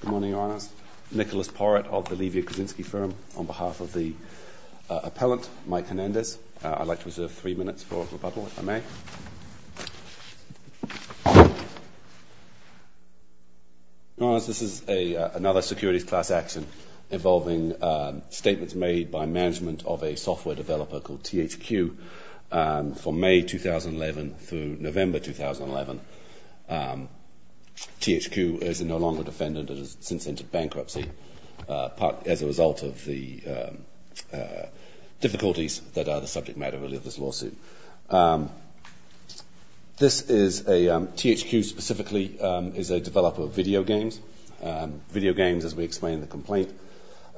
Good morning, Your Honours. Nicholas Porrett of the Levy & Kuczynski firm. On behalf of the appellant, Mike Hernandez, I'd like to reserve three minutes for rebuttal, if I may. Your Honours, this is another securities class action involving statements made by management of a software developer called THQ from May 2011 through November 2011. THQ is no longer defendant and has since entered bankruptcy as a result of the difficulties that are the subject matter of this lawsuit. THQ specifically is a developer of video games. Video games, as we explained in the complaint,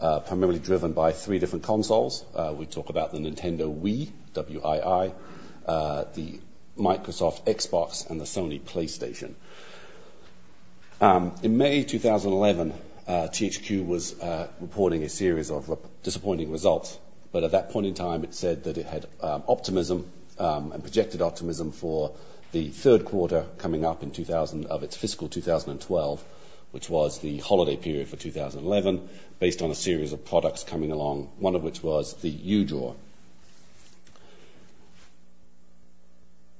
are primarily driven by three different consoles. We talk about the Nintendo Wii, W-I-I, the Microsoft Xbox, and the Sony PlayStation. In May 2011, THQ was reporting a series of disappointing results, but at that point in time it said that it had optimism and projected optimism for the third quarter coming up of its fiscal 2012, which was the holiday period for 2011, based on a series of products coming along, one of which was the U-Draw.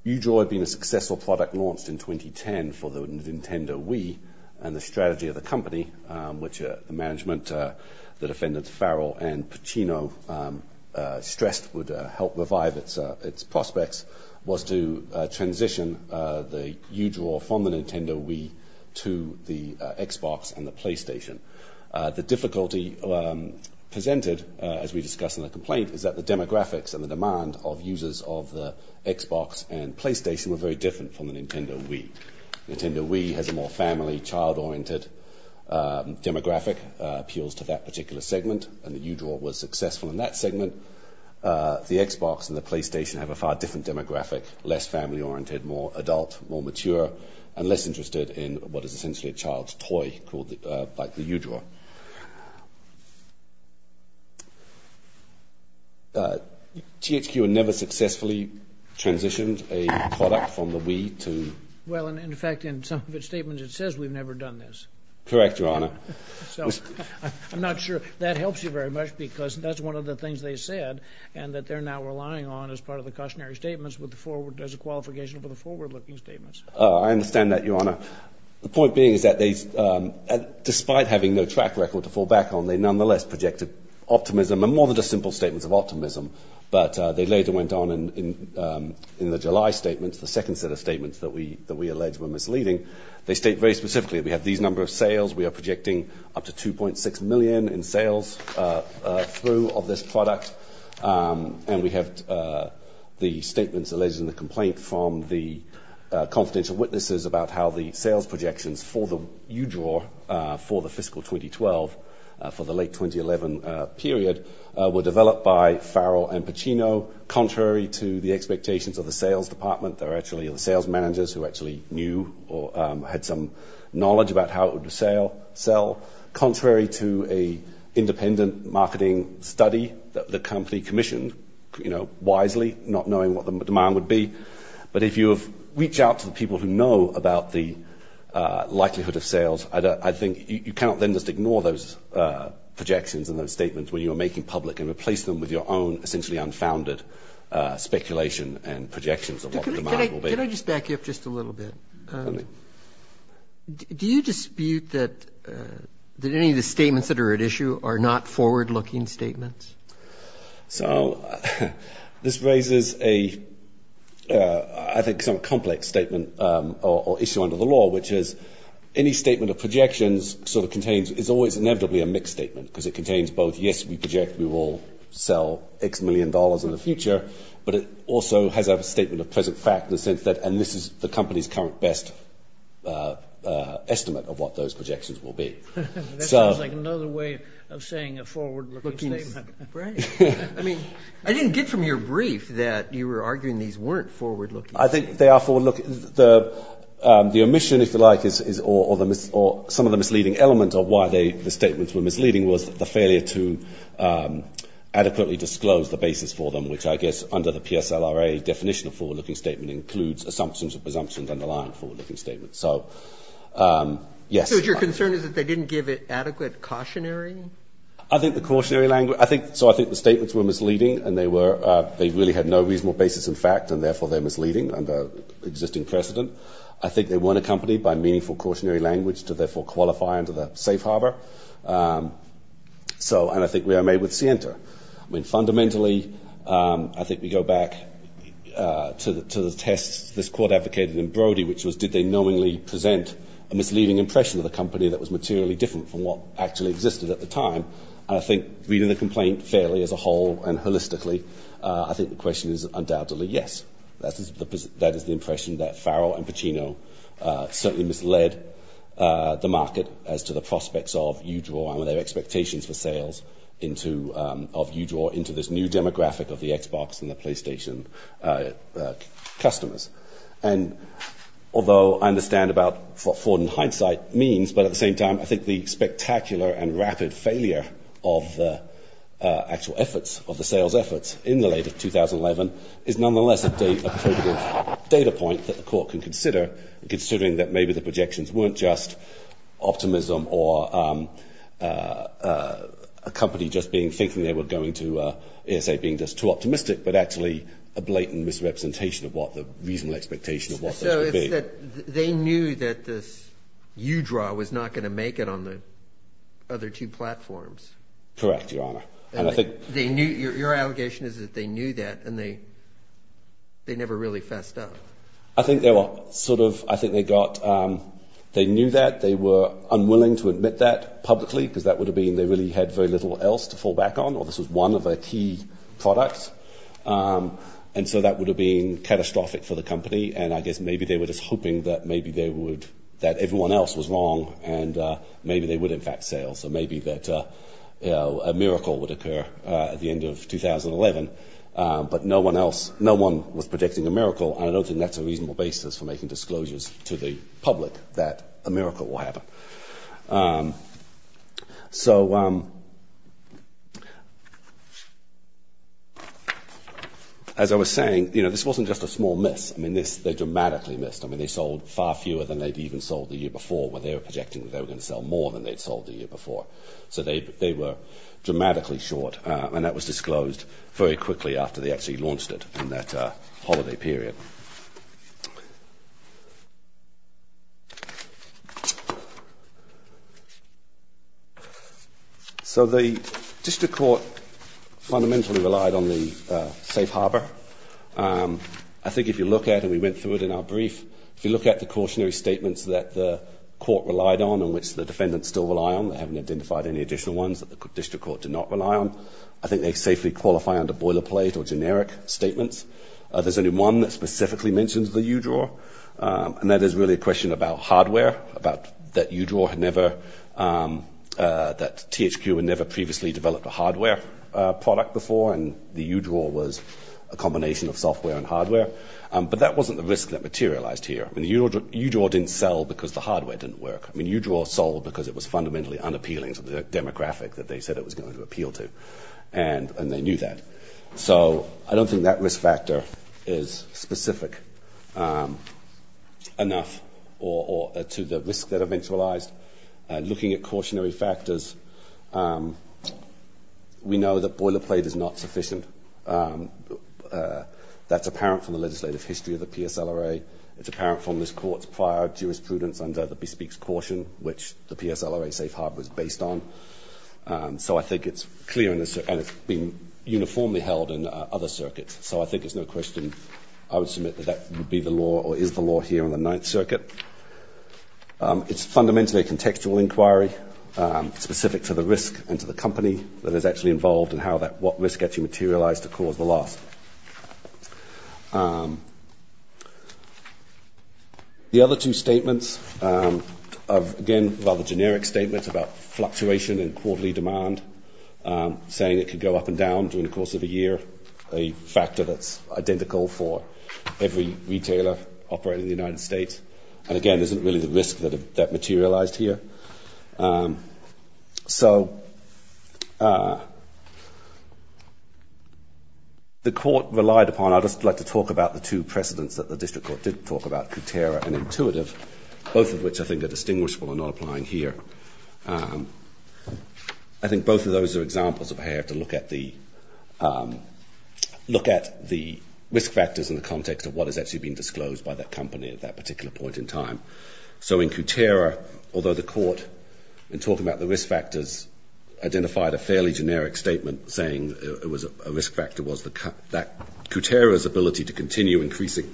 U-Draw had been a successful product launched in 2010 for the Nintendo Wii, and the strategy of the company, which the management, the defendants Farrell and Pacino, stressed would help revive its prospects, was to transition the U-Draw from the Nintendo Wii to the Xbox and the PlayStation. The difficulty presented, as we discussed in the complaint, is that the demographics and the demand of users of the Xbox and PlayStation were very different from the Nintendo Wii. Nintendo Wii has a more family, child-oriented demographic, appeals to that particular segment, and the U-Draw was successful in that segment. The Xbox and the PlayStation have a far different demographic, less family-oriented, more adult, more mature, and less interested in what is essentially a child's toy, like the U-Draw. THQ had never successfully transitioned a product from the Wii to... Well, in fact, in some of its statements, it says we've never done this. Correct, Your Honor. I'm not sure that helps you very much, because that's one of the things they said, and that they're now relying on as part of the cautionary statements as a qualification for the forward-looking statements. I understand that, Your Honor. The point being is that despite having no track record to fall back on, they nonetheless projected optimism, and more than just simple statements of optimism, but they later went on in the July statements, the second set of statements that we allege were misleading. They state very specifically, we have these number of sales, we are projecting up to 2.6 million in sales through of this product, and we have the statements alleged in the complaint from the confidential witnesses about how the sales projections for the U-Draw for the fiscal 2012, for the late 2011 period, were developed by Farrell and Pacino, contrary to the expectations of the sales department. They're actually the sales managers who actually knew or had some knowledge about how it would sell, contrary to an independent marketing study that the company commissioned, you know, wisely, not knowing what the demand would be. But if you have reached out to the people who know about the likelihood of sales, I think you cannot then just ignore those projections and those statements when you are making public and replace them with your own essentially unfounded speculation and projections of what the demand will be. Can I just back you up just a little bit? Certainly. Do you dispute that any of the statements that are at issue are not forward-looking statements? So, this raises a, I think, some complex statement or issue under the law, which is any statement of projections sort of contains, is always inevitably a mixed statement because it contains both, yes, we project we will sell X million dollars in the future, but it also has a statement of present fact in the sense that, and this is the company's current best estimate of what those projections will be. That sounds like another way of saying a forward-looking statement. Right. I mean, I didn't get from your brief that you were arguing these weren't forward-looking statements. I think they are forward-looking. The omission, if you like, or some of the misleading elements of why the statements were misleading was the failure to adequately disclose the basis for them, which I guess under the PSLRA definition of forward-looking statement includes assumptions and presumptions underlying forward-looking statements. So, yes. So, your concern is that they didn't give it adequate cautionary? I think the cautionary language, I think, so I think the statements were misleading and they were, they really had no reasonable basis in fact and therefore they're misleading under existing precedent. I think they weren't accompanied by meaningful cautionary language to therefore qualify under the safe harbor. So, and I think we are made with scienter. I mean, fundamentally, I think we go back to the test this court advocated in Brody, which was did they knowingly present a misleading impression of the company that was materially different from what actually existed at the time. I think reading the complaint fairly as a whole and holistically, I think the question is undoubtedly yes. That is the impression that Farrell and Pacino certainly misled the market as to the prospects of Udraw and their expectations for sales of Udraw into this new demographic of the Xbox and the PlayStation customers. And although I understand about what Ford in hindsight means, but at the same time, I think the spectacular and rapid failure of the actual efforts of the sales efforts in the late of 2011 is nonetheless a data point that the court can consider, considering that maybe the projections weren't just optimism or a company just being thinking they were going to ESA being just too optimistic, but actually a blatant misrepresentation of what the reasonable expectation of what they would be. So it's that they knew that this Udraw was not going to make it on the other two platforms. Correct, Your Honor. And I think they knew, your allegation is that they knew that and they never really fessed up. I think they were sort of, I think they got, they knew that, they were unwilling to admit that publicly because that would have been, they really had very little else to fall back on, or this was one of the key products. And so that would have been catastrophic for the company. And I guess maybe they were just hoping that maybe they would, that everyone else was wrong and maybe they would in fact sell. So maybe that a miracle would occur at the end of 2011. But no one else, no one was predicting a miracle and I don't think that's a reasonable basis for making disclosures to the public that a miracle will happen. So as I was saying, you know, this wasn't just a small miss. I mean this, they dramatically missed. I mean they sold far fewer than they'd even sold the year before when they were projecting they were going to sell more than they'd sold the year before. So they were dramatically short. And that was disclosed very quickly after they actually launched it in that holiday period. So the district court fundamentally relied on the safe harbor. I think if you look at, and we went through it in our brief, if you look at the cautionary statements that the court relied on and which the defendants still rely on, they haven't identified any additional ones that the district court did not rely on, I think they safely qualify under boilerplate or generic statements. There's only one that specifically mentions the U-draw. And that is really a question about hardware, about that U-draw had never, that THQ had never previously developed a hardware product before. And the U-draw was a combination of software and hardware. But that wasn't the risk that materialized here. I mean the U-draw didn't sell because the hardware didn't work. I mean U-draw sold because it was fundamentally unappealing to the demographic that they said it was going to appeal to. And they knew that. So I don't think that risk factor is specific enough to the risk that eventualized. Looking at cautionary factors, we know that boilerplate is not sufficient. That's apparent from the legislative history of the PSLRA. It's apparent from this court's prior jurisprudence under the bespeaks caution, which the PSLRA safe harbor is based on. So I think it's clear and it's been uniformly held in other circuits. So I think it's no question I would submit that that would be the law or is the law here on the Ninth Circuit. It's fundamentally a contextual inquiry specific to the risk and to the company that is actually involved and what risk actually materialized to cause the loss. The other two statements, again, rather generic statements about fluctuation in quarterly demand, saying it could go up and down during the course of a year, a factor that's identical for every retailer operating in the United States. And again, isn't really the risk that materialized here. So the court relied upon, I'd just like to talk about the two precedents that the district court did talk about, Kutera and Intuitive, both of which I think are distinguishable and not applying here. I think both of those are examples of how you have to look at the risk factors in the context of what has actually been disclosed by that company at that particular point in time. So in Kutera, although the court, in talking about the risk factors, identified a fairly generic statement saying a risk factor was that Kutera's ability to continue increasing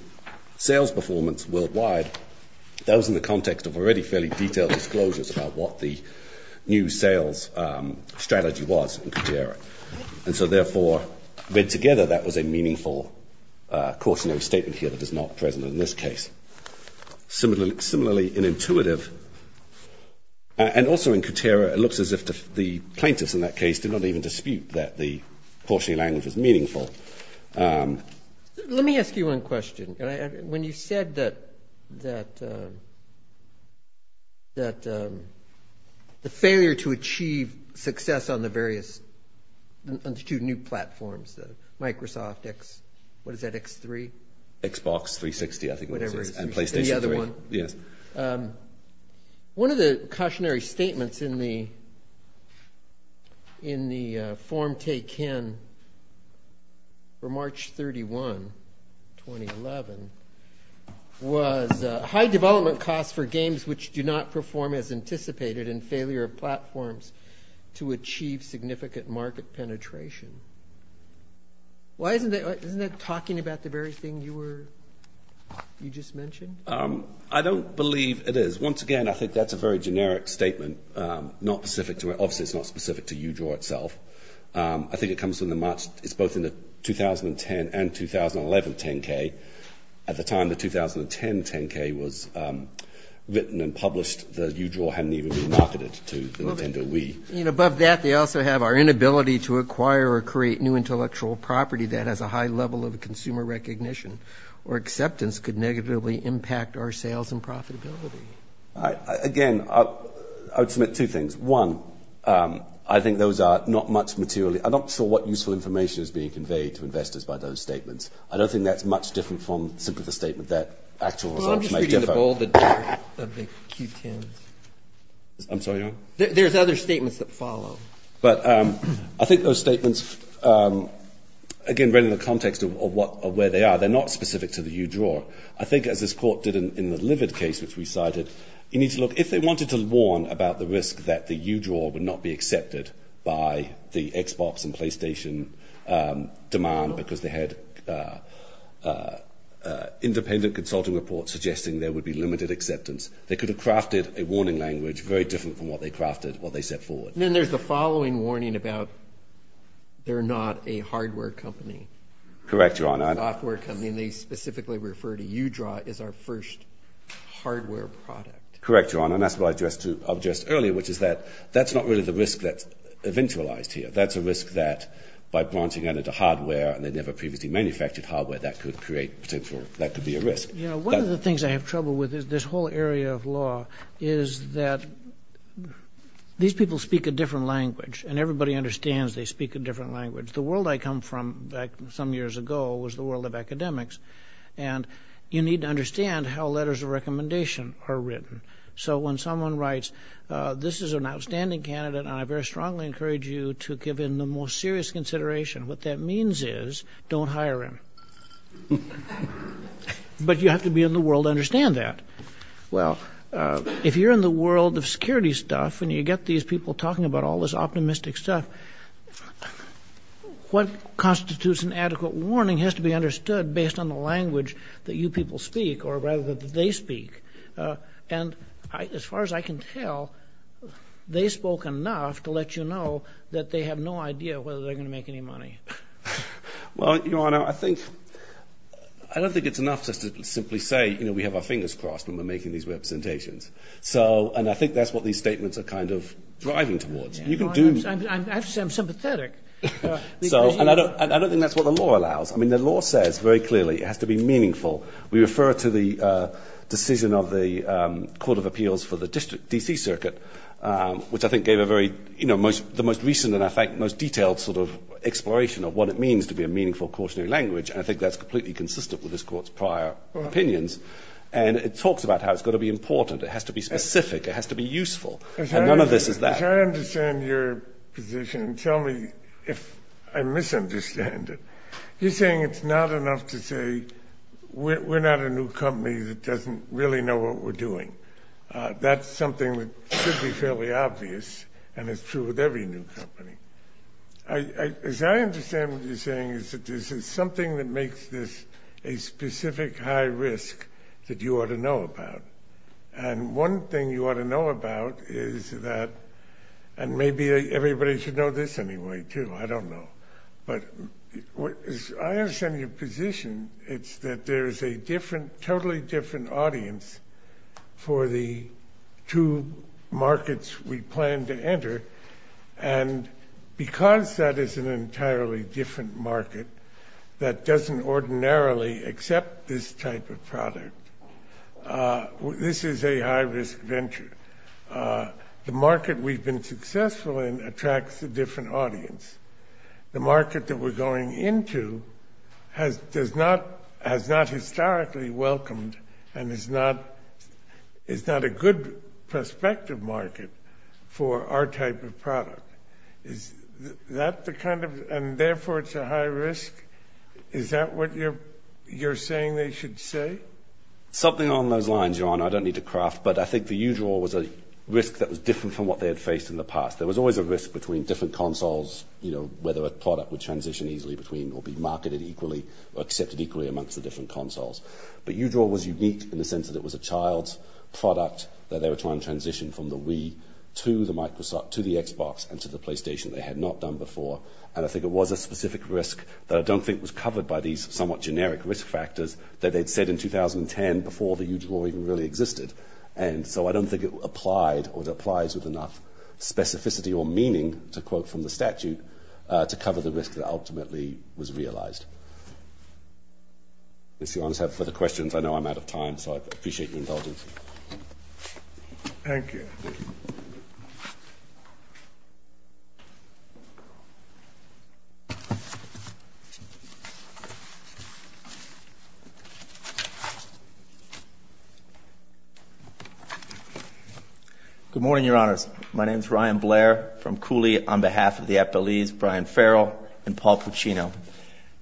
sales performance worldwide, that was in the context of already fairly detailed disclosures about what the new sales strategy was in Kutera. And so therefore, read together, that was a meaningful cautionary statement here that is not present in this case. Similarly, in Intuitive, and also in Kutera, it looks as if the plaintiffs in that case did not even dispute that the cautionary language was meaningful. Let me ask you one question. When you said that the failure to achieve success on the various, on the two new platforms, Microsoft X, what is that, X3? Xbox 360, I think it was, and PlayStation 3. One of the cautionary statements in the form taken for March 31, 2011, was high development costs for games which do not perform as anticipated and failure of platforms to achieve significant market penetration. Why isn't that, isn't that talking about the very thing you were, you just mentioned? I don't believe it is. Once again, I think that's a very generic statement, not specific to, obviously it's not specific to Udraw itself. I think it comes from the March, it's both in the 2010 and 2011 10K. At the time, the 2010 10K was written and published, the Udraw hadn't even been marketed to the Nintendo Wii. And above that, they also have our inability to acquire or create new intellectual property that has a high level of consumer recognition or acceptance could negatively impact our sales and profitability. Again, I would submit two things. One, I think those are not much material. I'm not sure what useful information is being conveyed to investors by those statements. I don't think that's much different from simply the statement that actual results may differ. There's other statements that follow. But I think those statements, again, read in the context of where they are, they're not specific to the Udraw. I think as this court did in the Livid case, which we cited, you need to look, if they wanted to warn about the risk that the Udraw would not be accepted by the Xbox and PlayStation demand because they had independent consulting reports suggesting there would be limited acceptance, they could have crafted a warning language very different from what they crafted, what they set forward. Then there's the following warning about they're not a hardware company. Correct, Your Honor. Software company, and they specifically refer to Udraw as our first hardware product. Correct, Your Honor, and that's what I addressed earlier, which is that that's not really the risk that's eventualized here. That's a risk that by branching out into hardware, and they never previously manufactured hardware, that could create potential, that could be a risk. You know, one of the things I have trouble with is this whole area of law, is that these people speak a different language, and everybody understands they speak a different language. The world I come from back some years ago was the world of academics, and you need to understand how letters of recommendation are written. So when someone writes, this is an outstanding candidate, and I very strongly encourage you to give him the most serious consideration, what that means is don't hire him. But you have to be in the world to understand that. Well, if you're in the world of security stuff, and you get these people talking about all this optimistic stuff, what constitutes an adequate warning has to be understood based on the language that you people speak, or rather that they speak, and as far as I can tell, they spoke enough to let you know that they have no idea whether they're going to make any money. Well, Your Honor, I don't think it's enough just to simply say, you know, we have our fingers crossed when we're making these representations, and I think that's what these statements are kind of driving towards. I have to say I'm sympathetic. And I don't think that's what the law allows. I mean, the law says very clearly it has to be meaningful. We refer to the decision of the Court of Appeals for the D.C. Circuit, which I think gave a very, you know, the most recent and, in fact, most detailed sort of exploration of what it means to be a meaningful cautionary language, and I think that's completely consistent with this Court's prior opinions. And it talks about how it's got to be important. It has to be specific. It has to be useful. And none of this is that. As I understand your position, and tell me if I misunderstand it, you're saying it's not enough to say we're not a new company that doesn't really know what we're doing. That's something that should be fairly obvious, and it's true with every new company. As I understand what you're saying, is that this is something that makes this a specific high risk that you ought to know about. And one thing you ought to know about is that – and maybe everybody should know this anyway, too. I don't know. But as I understand your position, it's that there is a totally different audience for the two markets we plan to enter, and because that is an entirely different market that doesn't ordinarily accept this type of product, this is a high risk venture. The market we've been successful in attracts a different audience. The market that we're going into has not historically welcomed and is not a good prospective market for our type of product. Is that the kind of – and therefore it's a high risk? Is that what you're saying they should say? Something along those lines, John. I don't need to craft, but I think the UDRAW was a risk that was different from what they had faced in the past. There was always a risk between different consoles, whether a product would transition easily between or be marketed equally or accepted equally amongst the different consoles. But UDRAW was unique in the sense that it was a child's product that they were trying to transition from the Wii to the Xbox and to the PlayStation they had not done before. And I think it was a specific risk that I don't think was covered by these somewhat generic risk factors that they'd said in 2010 before the UDRAW even really existed. And so I don't think it applied or it applies with enough specificity or meaning, to quote from the statute, to cover the risk that ultimately was realized. If you want to ask further questions, I know I'm out of time, so I appreciate your indulgence. Thank you. Good morning, Your Honors. My name is Ryan Blair from Cooley. On behalf of the FLEs, Brian Farrell and Paul Puccino.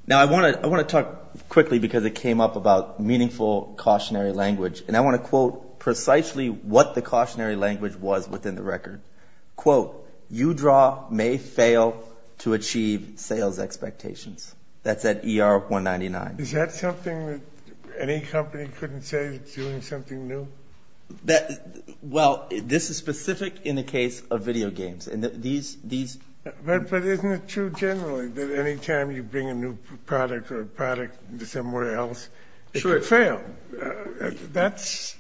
Now, I want to talk quickly because it came up about meaningful cautionary language, and I want to quote precisely what the cautionary language was within the record. Quote, UDRAW may fail to achieve sales expectations. Is that something that you're saying? Any company couldn't say it's doing something new? Well, this is specific in the case of video games. But isn't it true generally that any time you bring a new product or a product to somewhere else, it could fail? That's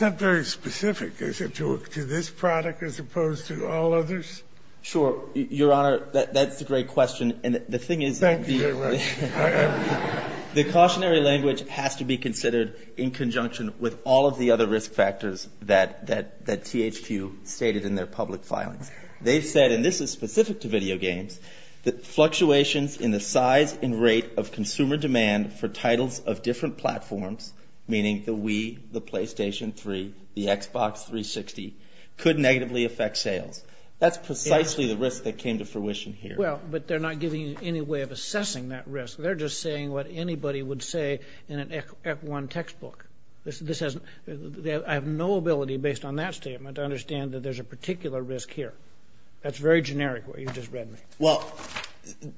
not very specific. Is it to this product as opposed to all others? Sure. Your Honor, that's a great question. Thank you very much. The cautionary language has to be considered in conjunction with all of the other risk factors that THQ stated in their public filings. They've said, and this is specific to video games, that fluctuations in the size and rate of consumer demand for titles of different platforms, meaning the Wii, the PlayStation 3, the Xbox 360, could negatively affect sales. That's precisely the risk that came to fruition here. Well, but they're not giving you any way of assessing that risk. They're just saying what anybody would say in an F1 textbook. I have no ability, based on that statement, to understand that there's a particular risk here. That's very generic where you just read me. Well,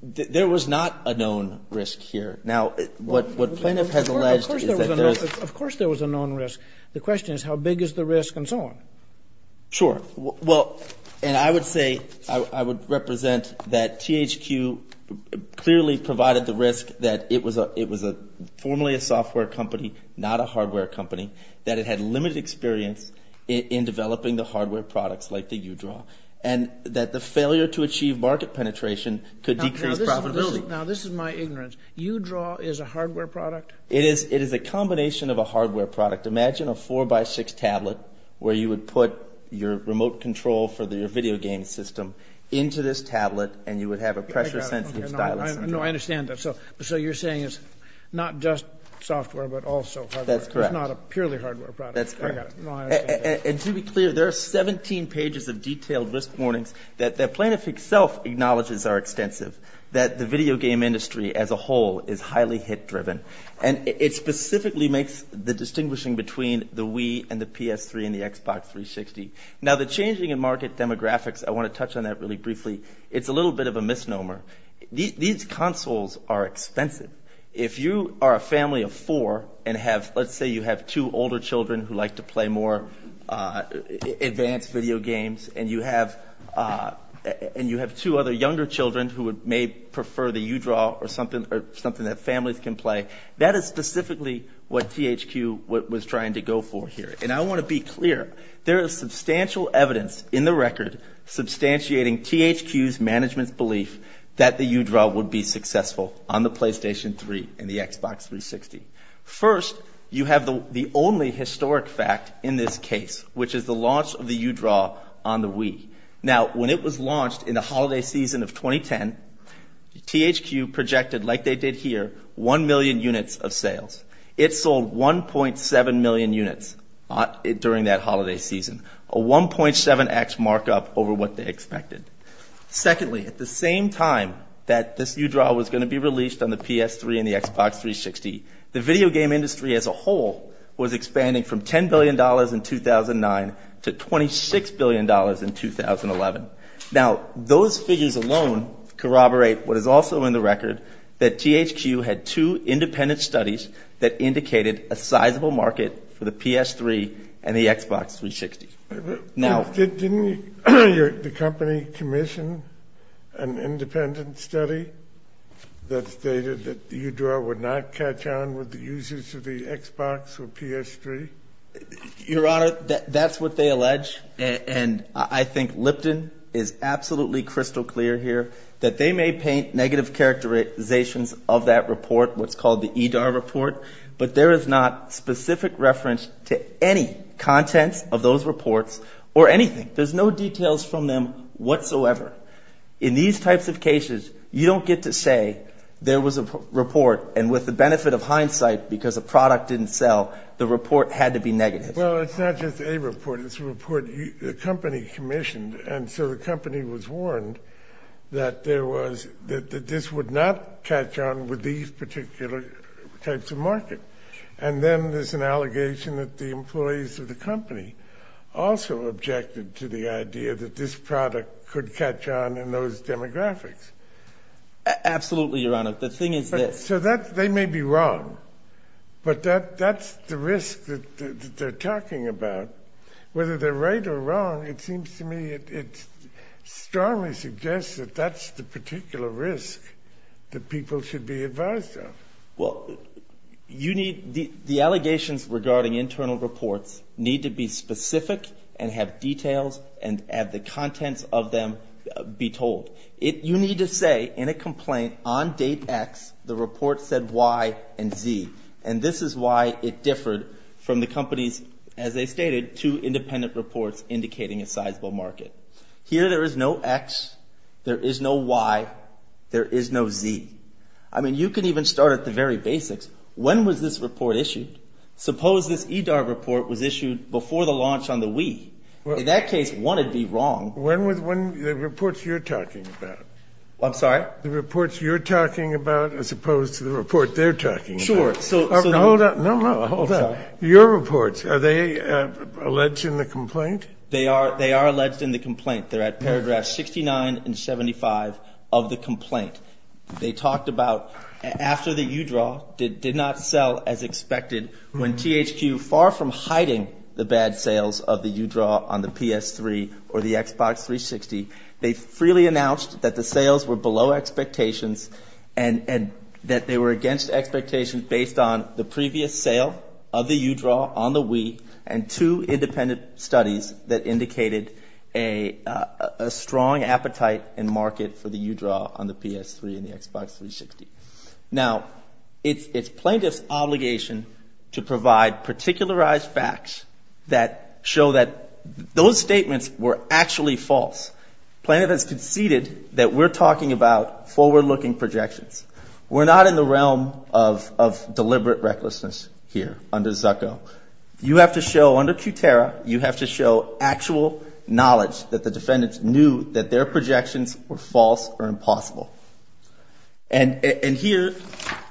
there was not a known risk here. Now, what plaintiff has alleged is that there is. Of course there was a known risk. The question is how big is the risk and so on. Sure. Well, and I would say, I would represent that THQ clearly provided the risk that it was formerly a software company, not a hardware company, that it had limited experience in developing the hardware products like the UDRAW, and that the failure to achieve market penetration could decrease profitability. Now, this is my ignorance. UDRAW is a hardware product? It is a combination of a hardware product. Imagine a 4x6 tablet where you would put your remote control for your video game system into this tablet and you would have a pressure-sensitive stylus. No, I understand that. So you're saying it's not just software but also hardware. That's correct. It's not a purely hardware product. That's correct. And to be clear, there are 17 pages of detailed risk warnings that the plaintiff itself acknowledges are extensive, that the video game industry as a whole is highly hit-driven, and it specifically makes the distinguishing between the Wii and the PS3 and the Xbox 360. Now, the changing in market demographics, I want to touch on that really briefly, it's a little bit of a misnomer. These consoles are expensive. If you are a family of four and have, let's say you have two older children who like to play more advanced video games, and you have two other younger children who may prefer the UDRAW or something that families can play, that is specifically what THQ was trying to go for here. And I want to be clear. There is substantial evidence in the record substantiating THQ's management's belief that the UDRAW would be successful on the PlayStation 3 and the Xbox 360. First, you have the only historic fact in this case, which is the launch of the UDRAW on the Wii. Now, when it was launched in the holiday season of 2010, THQ projected, like they did here, 1 million units of sales. It sold 1.7 million units during that holiday season, a 1.7x markup over what they expected. Secondly, at the same time that this UDRAW was going to be released on the PS3 and the Xbox 360, the video game industry as a whole was expanding from $10 billion in 2009 to $26 billion in 2011. Now, those figures alone corroborate what is also in the record, that THQ had two independent studies that indicated a sizable market for the PS3 and the Xbox 360. Didn't the company commission an independent study that stated that UDRAW would not catch on with the users of the Xbox or PS3? Your Honor, that's what they allege. And I think Lipton is absolutely crystal clear here that they may paint negative characterizations of that report, what's called the EDAR report, but there is not specific reference to any contents of those reports or anything. There's no details from them whatsoever. In these types of cases, you don't get to say there was a report, and with the benefit of hindsight, because a product didn't sell, the report had to be negative. Well, it's not just a report. It's a report the company commissioned. And so the company was warned that this would not catch on with these particular types of market. And then there's an allegation that the employees of the company also objected to the idea that this product could catch on in those demographics. Absolutely, Your Honor. The thing is this. So they may be wrong, but that's the risk that they're talking about. Whether they're right or wrong, it seems to me it strongly suggests that that's the particular risk that people should be advised of. Well, the allegations regarding internal reports need to be specific and have details and have the contents of them be told. You need to say in a complaint, on date X, the report said Y and Z. And this is why it differed from the company's, as they stated, two independent reports indicating a sizable market. Here there is no X, there is no Y, there is no Z. I mean, you can even start at the very basics. When was this report issued? Suppose this EDAR report was issued before the launch on the Wii. In that case, one would be wrong. The reports you're talking about. I'm sorry? The reports you're talking about as opposed to the report they're talking about. Sure. Hold on. Your reports, are they alleged in the complaint? They are alleged in the complaint. They're at paragraphs 69 and 75 of the complaint. They talked about after the UDRAW did not sell as expected, when THQ, far from hiding the bad sales of the UDRAW on the PS3 or the Xbox 360, they freely announced that the sales were below expectations and that they were against expectations based on the previous sale of the UDRAW on the Wii and two independent studies that indicated a strong appetite and market for the UDRAW on the PS3 and the Xbox 360. Now, it's plaintiff's obligation to provide particularized facts that show that those statements were actually false. Plaintiff has conceded that we're talking about forward-looking projections. We're not in the realm of deliberate recklessness here under Zucco. You have to show, under QTERRA, you have to show actual knowledge that the defendants knew that their projections were false or impossible. And here,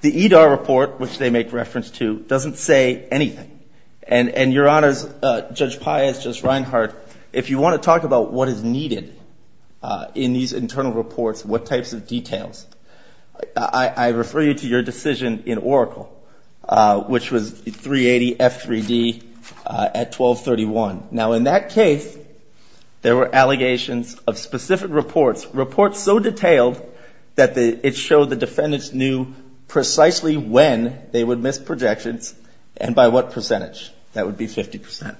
the EDAR report, which they make reference to, doesn't say anything. And, Your Honors, Judge Pius, Judge Reinhart, if you want to talk about what is needed in these internal reports, what types of details, I refer you to your decision in Oracle, which was 380F3D at 1231. Now, in that case, there were allegations of specific reports, reports so detailed that it showed the defendants knew precisely when they would miss projections and by what percentage. That would be 50%.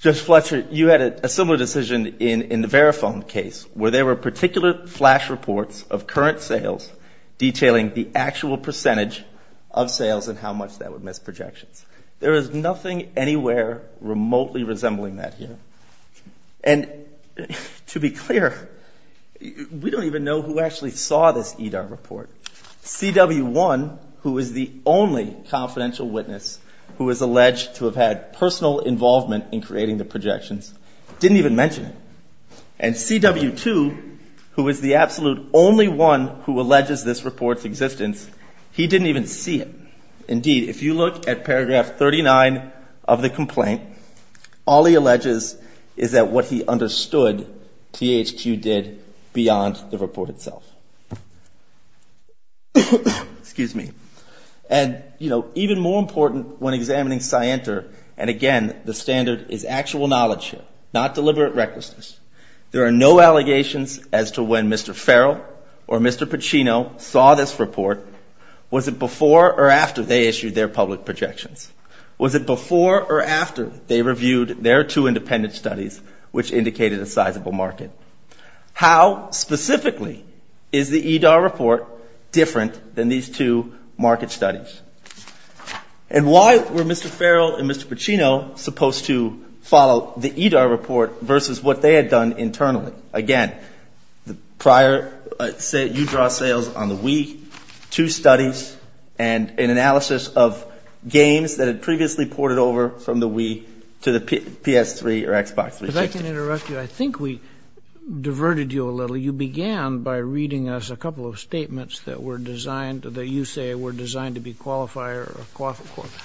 Judge Fletcher, you had a similar decision in the Verifone case, where there were particular flash reports of current sales detailing the actual percentage of sales and how much that would miss projections. There is nothing anywhere remotely resembling that here. And to be clear, we don't even know who actually saw this EDAR report. CW1, who is the only confidential witness who is alleged to have had personal involvement in creating the projections, didn't even mention it. And CW2, who is the absolute only one who alleges this report's existence, he didn't even see it. Indeed, if you look at paragraph 39 of the complaint, all he alleges is that what he understood THQ did beyond the report itself. And, you know, even more important when examining Scienter, and again, the standard is actual knowledge here, not deliberate recklessness. There are no allegations as to when Mr. Farrell or Mr. Pacino saw this report. Was it before or after they issued their public projections? Was it before or after they reviewed their two independent studies, which indicated a sizable market? How specifically is the EDAR report different than these two market studies? And why were Mr. Farrell and Mr. Pacino supposed to follow the EDAR report versus what they had done internally? Again, the prior, you draw sales on the Wii, two studies, and an analysis of games that had previously ported over from the Wii to the PS3 or Xbox 360. If I can interrupt you, I think we diverted you a little. You began by reading us a couple of statements that were designed, that you say were designed to be qualifier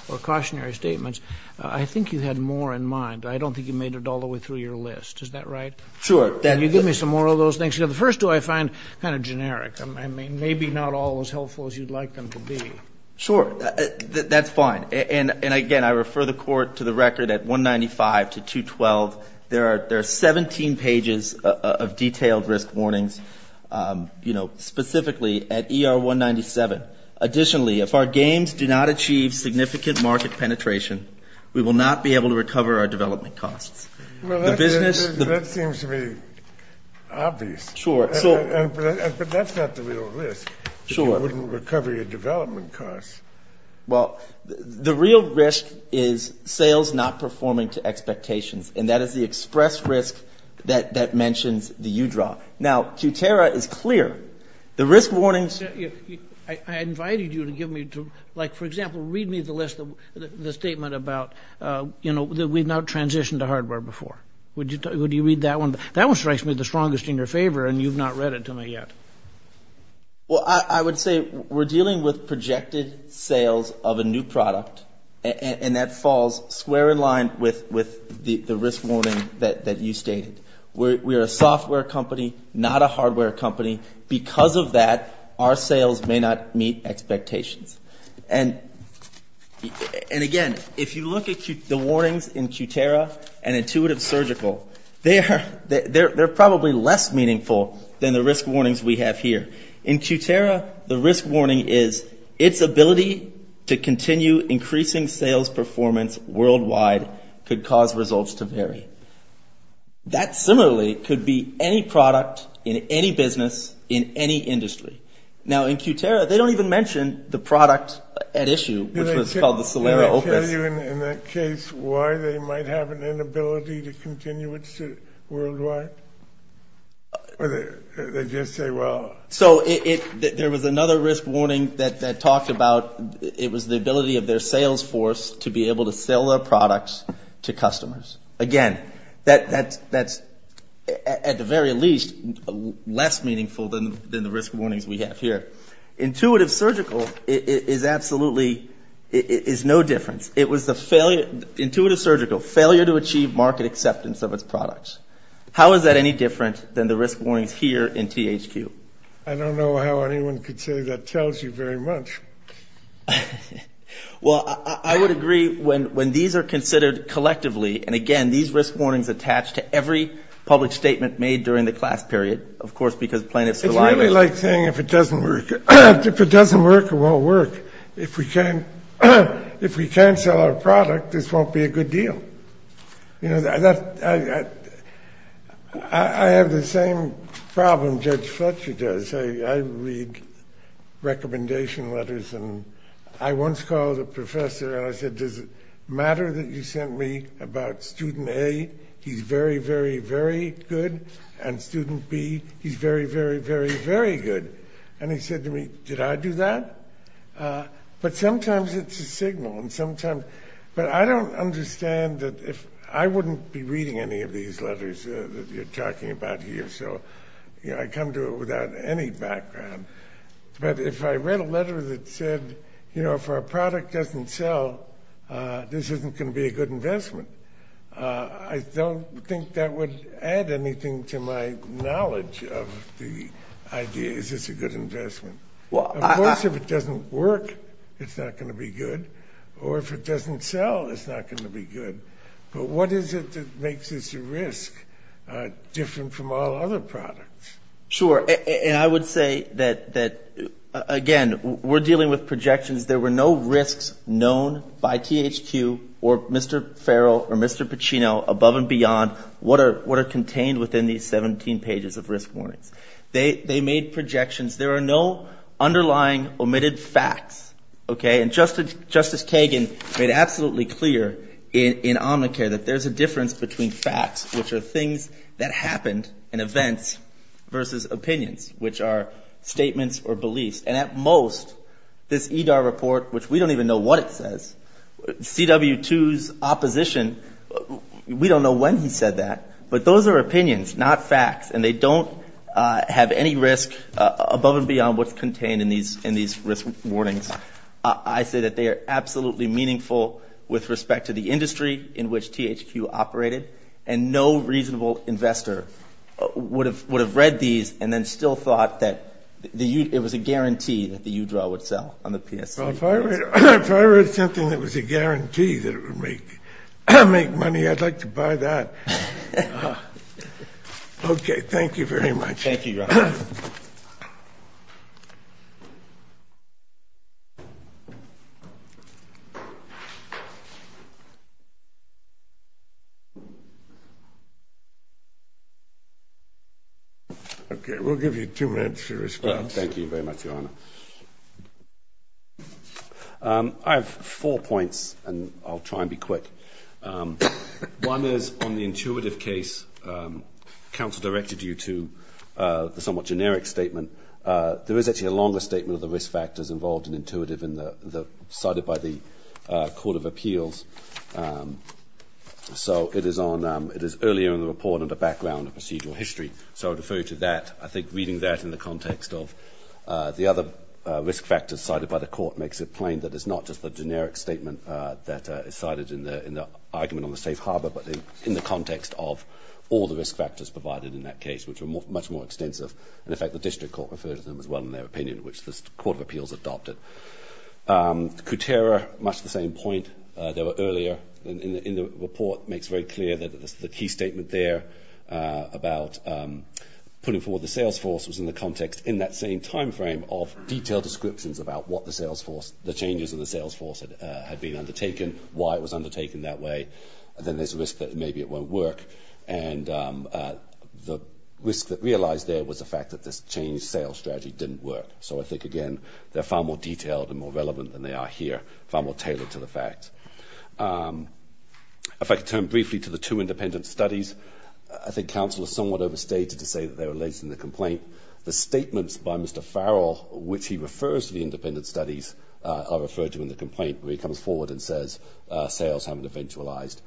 or cautionary statements. I think you had more in mind. I don't think you made it all the way through your list. Is that right? Sure. Can you give me some more of those things? The first two I find kind of generic. I mean, maybe not all as helpful as you'd like them to be. Sure. That's fine. And, again, I refer the Court to the record at 195 to 212. There are 17 pages of detailed risk warnings, you know, specifically at ER 197. Additionally, if our games do not achieve significant market penetration, we will not be able to recover our development costs. Well, that seems to be obvious. Sure. But that's not the real risk. Sure. If you wouldn't recover your development costs. Well, the real risk is sales not performing to expectations, and that is the express risk that mentions the U-draw. Now, Kutera is clear. The risk warnings. I invited you to give me, like, for example, read me the list, the statement about, you know, that we've not transitioned to hardware before. Would you read that one? That one strikes me the strongest in your favor, and you've not read it to me yet. Well, I would say we're dealing with projected sales of a new product, and that falls square in line with the risk warning that you stated. We're a software company, not a hardware company. Because of that, our sales may not meet expectations. And, again, if you look at the warnings in Kutera and Intuitive Surgical, they're probably less meaningful than the risk warnings we have here. In Kutera, the risk warning is its ability to continue increasing sales performance worldwide could cause results to vary. That, similarly, could be any product in any business in any industry. Now, in Kutera, they don't even mention the product at issue, which was called the Solera Opus. Did they tell you in that case why they might have an inability to continue worldwide? Or did they just say, well? So there was another risk warning that talked about it was the ability of their sales force to be able to sell their products to customers. Again, that's, at the very least, less meaningful than the risk warnings we have here. Intuitive Surgical is absolutely no difference. It was the failure, Intuitive Surgical, failure to achieve market acceptance of its products. How is that any different than the risk warnings here in THQ? I don't know how anyone could say that tells you very much. Well, I would agree when these are considered collectively, and, again, these risk warnings attach to every public statement made during the class period, of course, because plaintiffs rely on it. It's really like saying if it doesn't work, it won't work. If we can't sell our product, this won't be a good deal. You know, I have the same problem Judge Fletcher does. I read recommendation letters, and I once called a professor, and I said, does it matter that you sent me about student A, he's very, very, very good, and student B, he's very, very, very, very good. And he said to me, did I do that? But sometimes it's a signal, and sometimes – but I don't understand that if – I wouldn't be reading any of these letters that you're talking about here, so I come to it without any background. But if I read a letter that said, you know, if our product doesn't sell, this isn't going to be a good investment, I don't think that would add anything to my knowledge of the idea, is this a good investment. Of course, if it doesn't work, it's not going to be good, or if it doesn't sell, it's not going to be good. But what is it that makes this a risk different from all other products? Sure, and I would say that, again, we're dealing with projections. There were no risks known by THQ or Mr. Farrell or Mr. Pacino above and beyond what are contained within these 17 pages of risk warnings. They made projections. There are no underlying omitted facts. And Justice Kagan made absolutely clear in Omnicare that there's a difference between facts, which are things that happened and events, versus opinions, which are statements or beliefs. And at most, this EDAR report, which we don't even know what it says, CW2's opposition, we don't know when he said that, but those are opinions, not facts, and they don't have any risk above and beyond what's contained in these risk warnings. I say that they are absolutely meaningful with respect to the industry in which THQ operated, and no reasonable investor would have read these and then still thought that it was a guarantee that the UDRA would sell on the PSC. Well, if I read something that was a guarantee that it would make money, I'd like to buy that. Okay, thank you very much. Thank you, Your Honor. Okay, we'll give you two minutes to respond. Thank you very much, Your Honor. I have four points, and I'll try and be quick. One is on the intuitive case. Counsel directed you to the somewhat generic statement. There is actually a longer statement of the risk factors involved in intuitive cited by the Court of Appeals. So it is earlier in the report on the background of procedural history, so I would refer you to that. I think reading that in the context of the other risk factors cited by the court makes it plain that it's not just the generic statement that is cited in the argument on the safe harbor, but in the context of all the risk factors provided in that case, which are much more extensive. And, in fact, the district court referred to them as well in their opinion, which the Court of Appeals adopted. Kutera, much the same point. They were earlier in the report. It makes very clear that the key statement there about putting forward the sales force was in the context in that same time frame of detailed descriptions about what the sales force, the changes in the sales force had been undertaken, why it was undertaken that way. Then there's a risk that maybe it won't work, and the risk that realized there was the fact that this changed sales strategy didn't work. So I think, again, they're far more detailed and more relevant than they are here, far more tailored to the fact. If I could turn briefly to the two independent studies, I think counsel is somewhat overstated to say that they're related in the complaint. The statements by Mr. Farrell, which he refers to the independent studies, are referred to in the complaint where he comes forward and says sales haven't eventualized.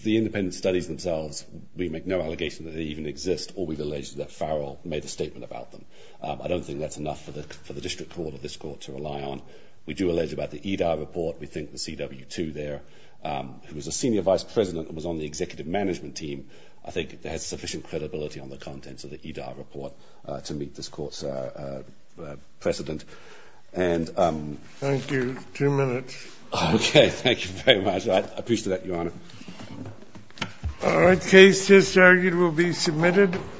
The independent studies themselves, we make no allegation that they even exist, or we've alleged that Farrell made a statement about them. I don't think that's enough for the district court or this court to rely on. We do allege about the EDI report, we think the CW2 there, who was a senior vice president and was on the executive management team, I think has sufficient credibility on the contents of the EDI report to meet this court's precedent. Thank you. Two minutes. Okay. Thank you very much. I appreciate that, Your Honor. All right. Case just argued will be submitted.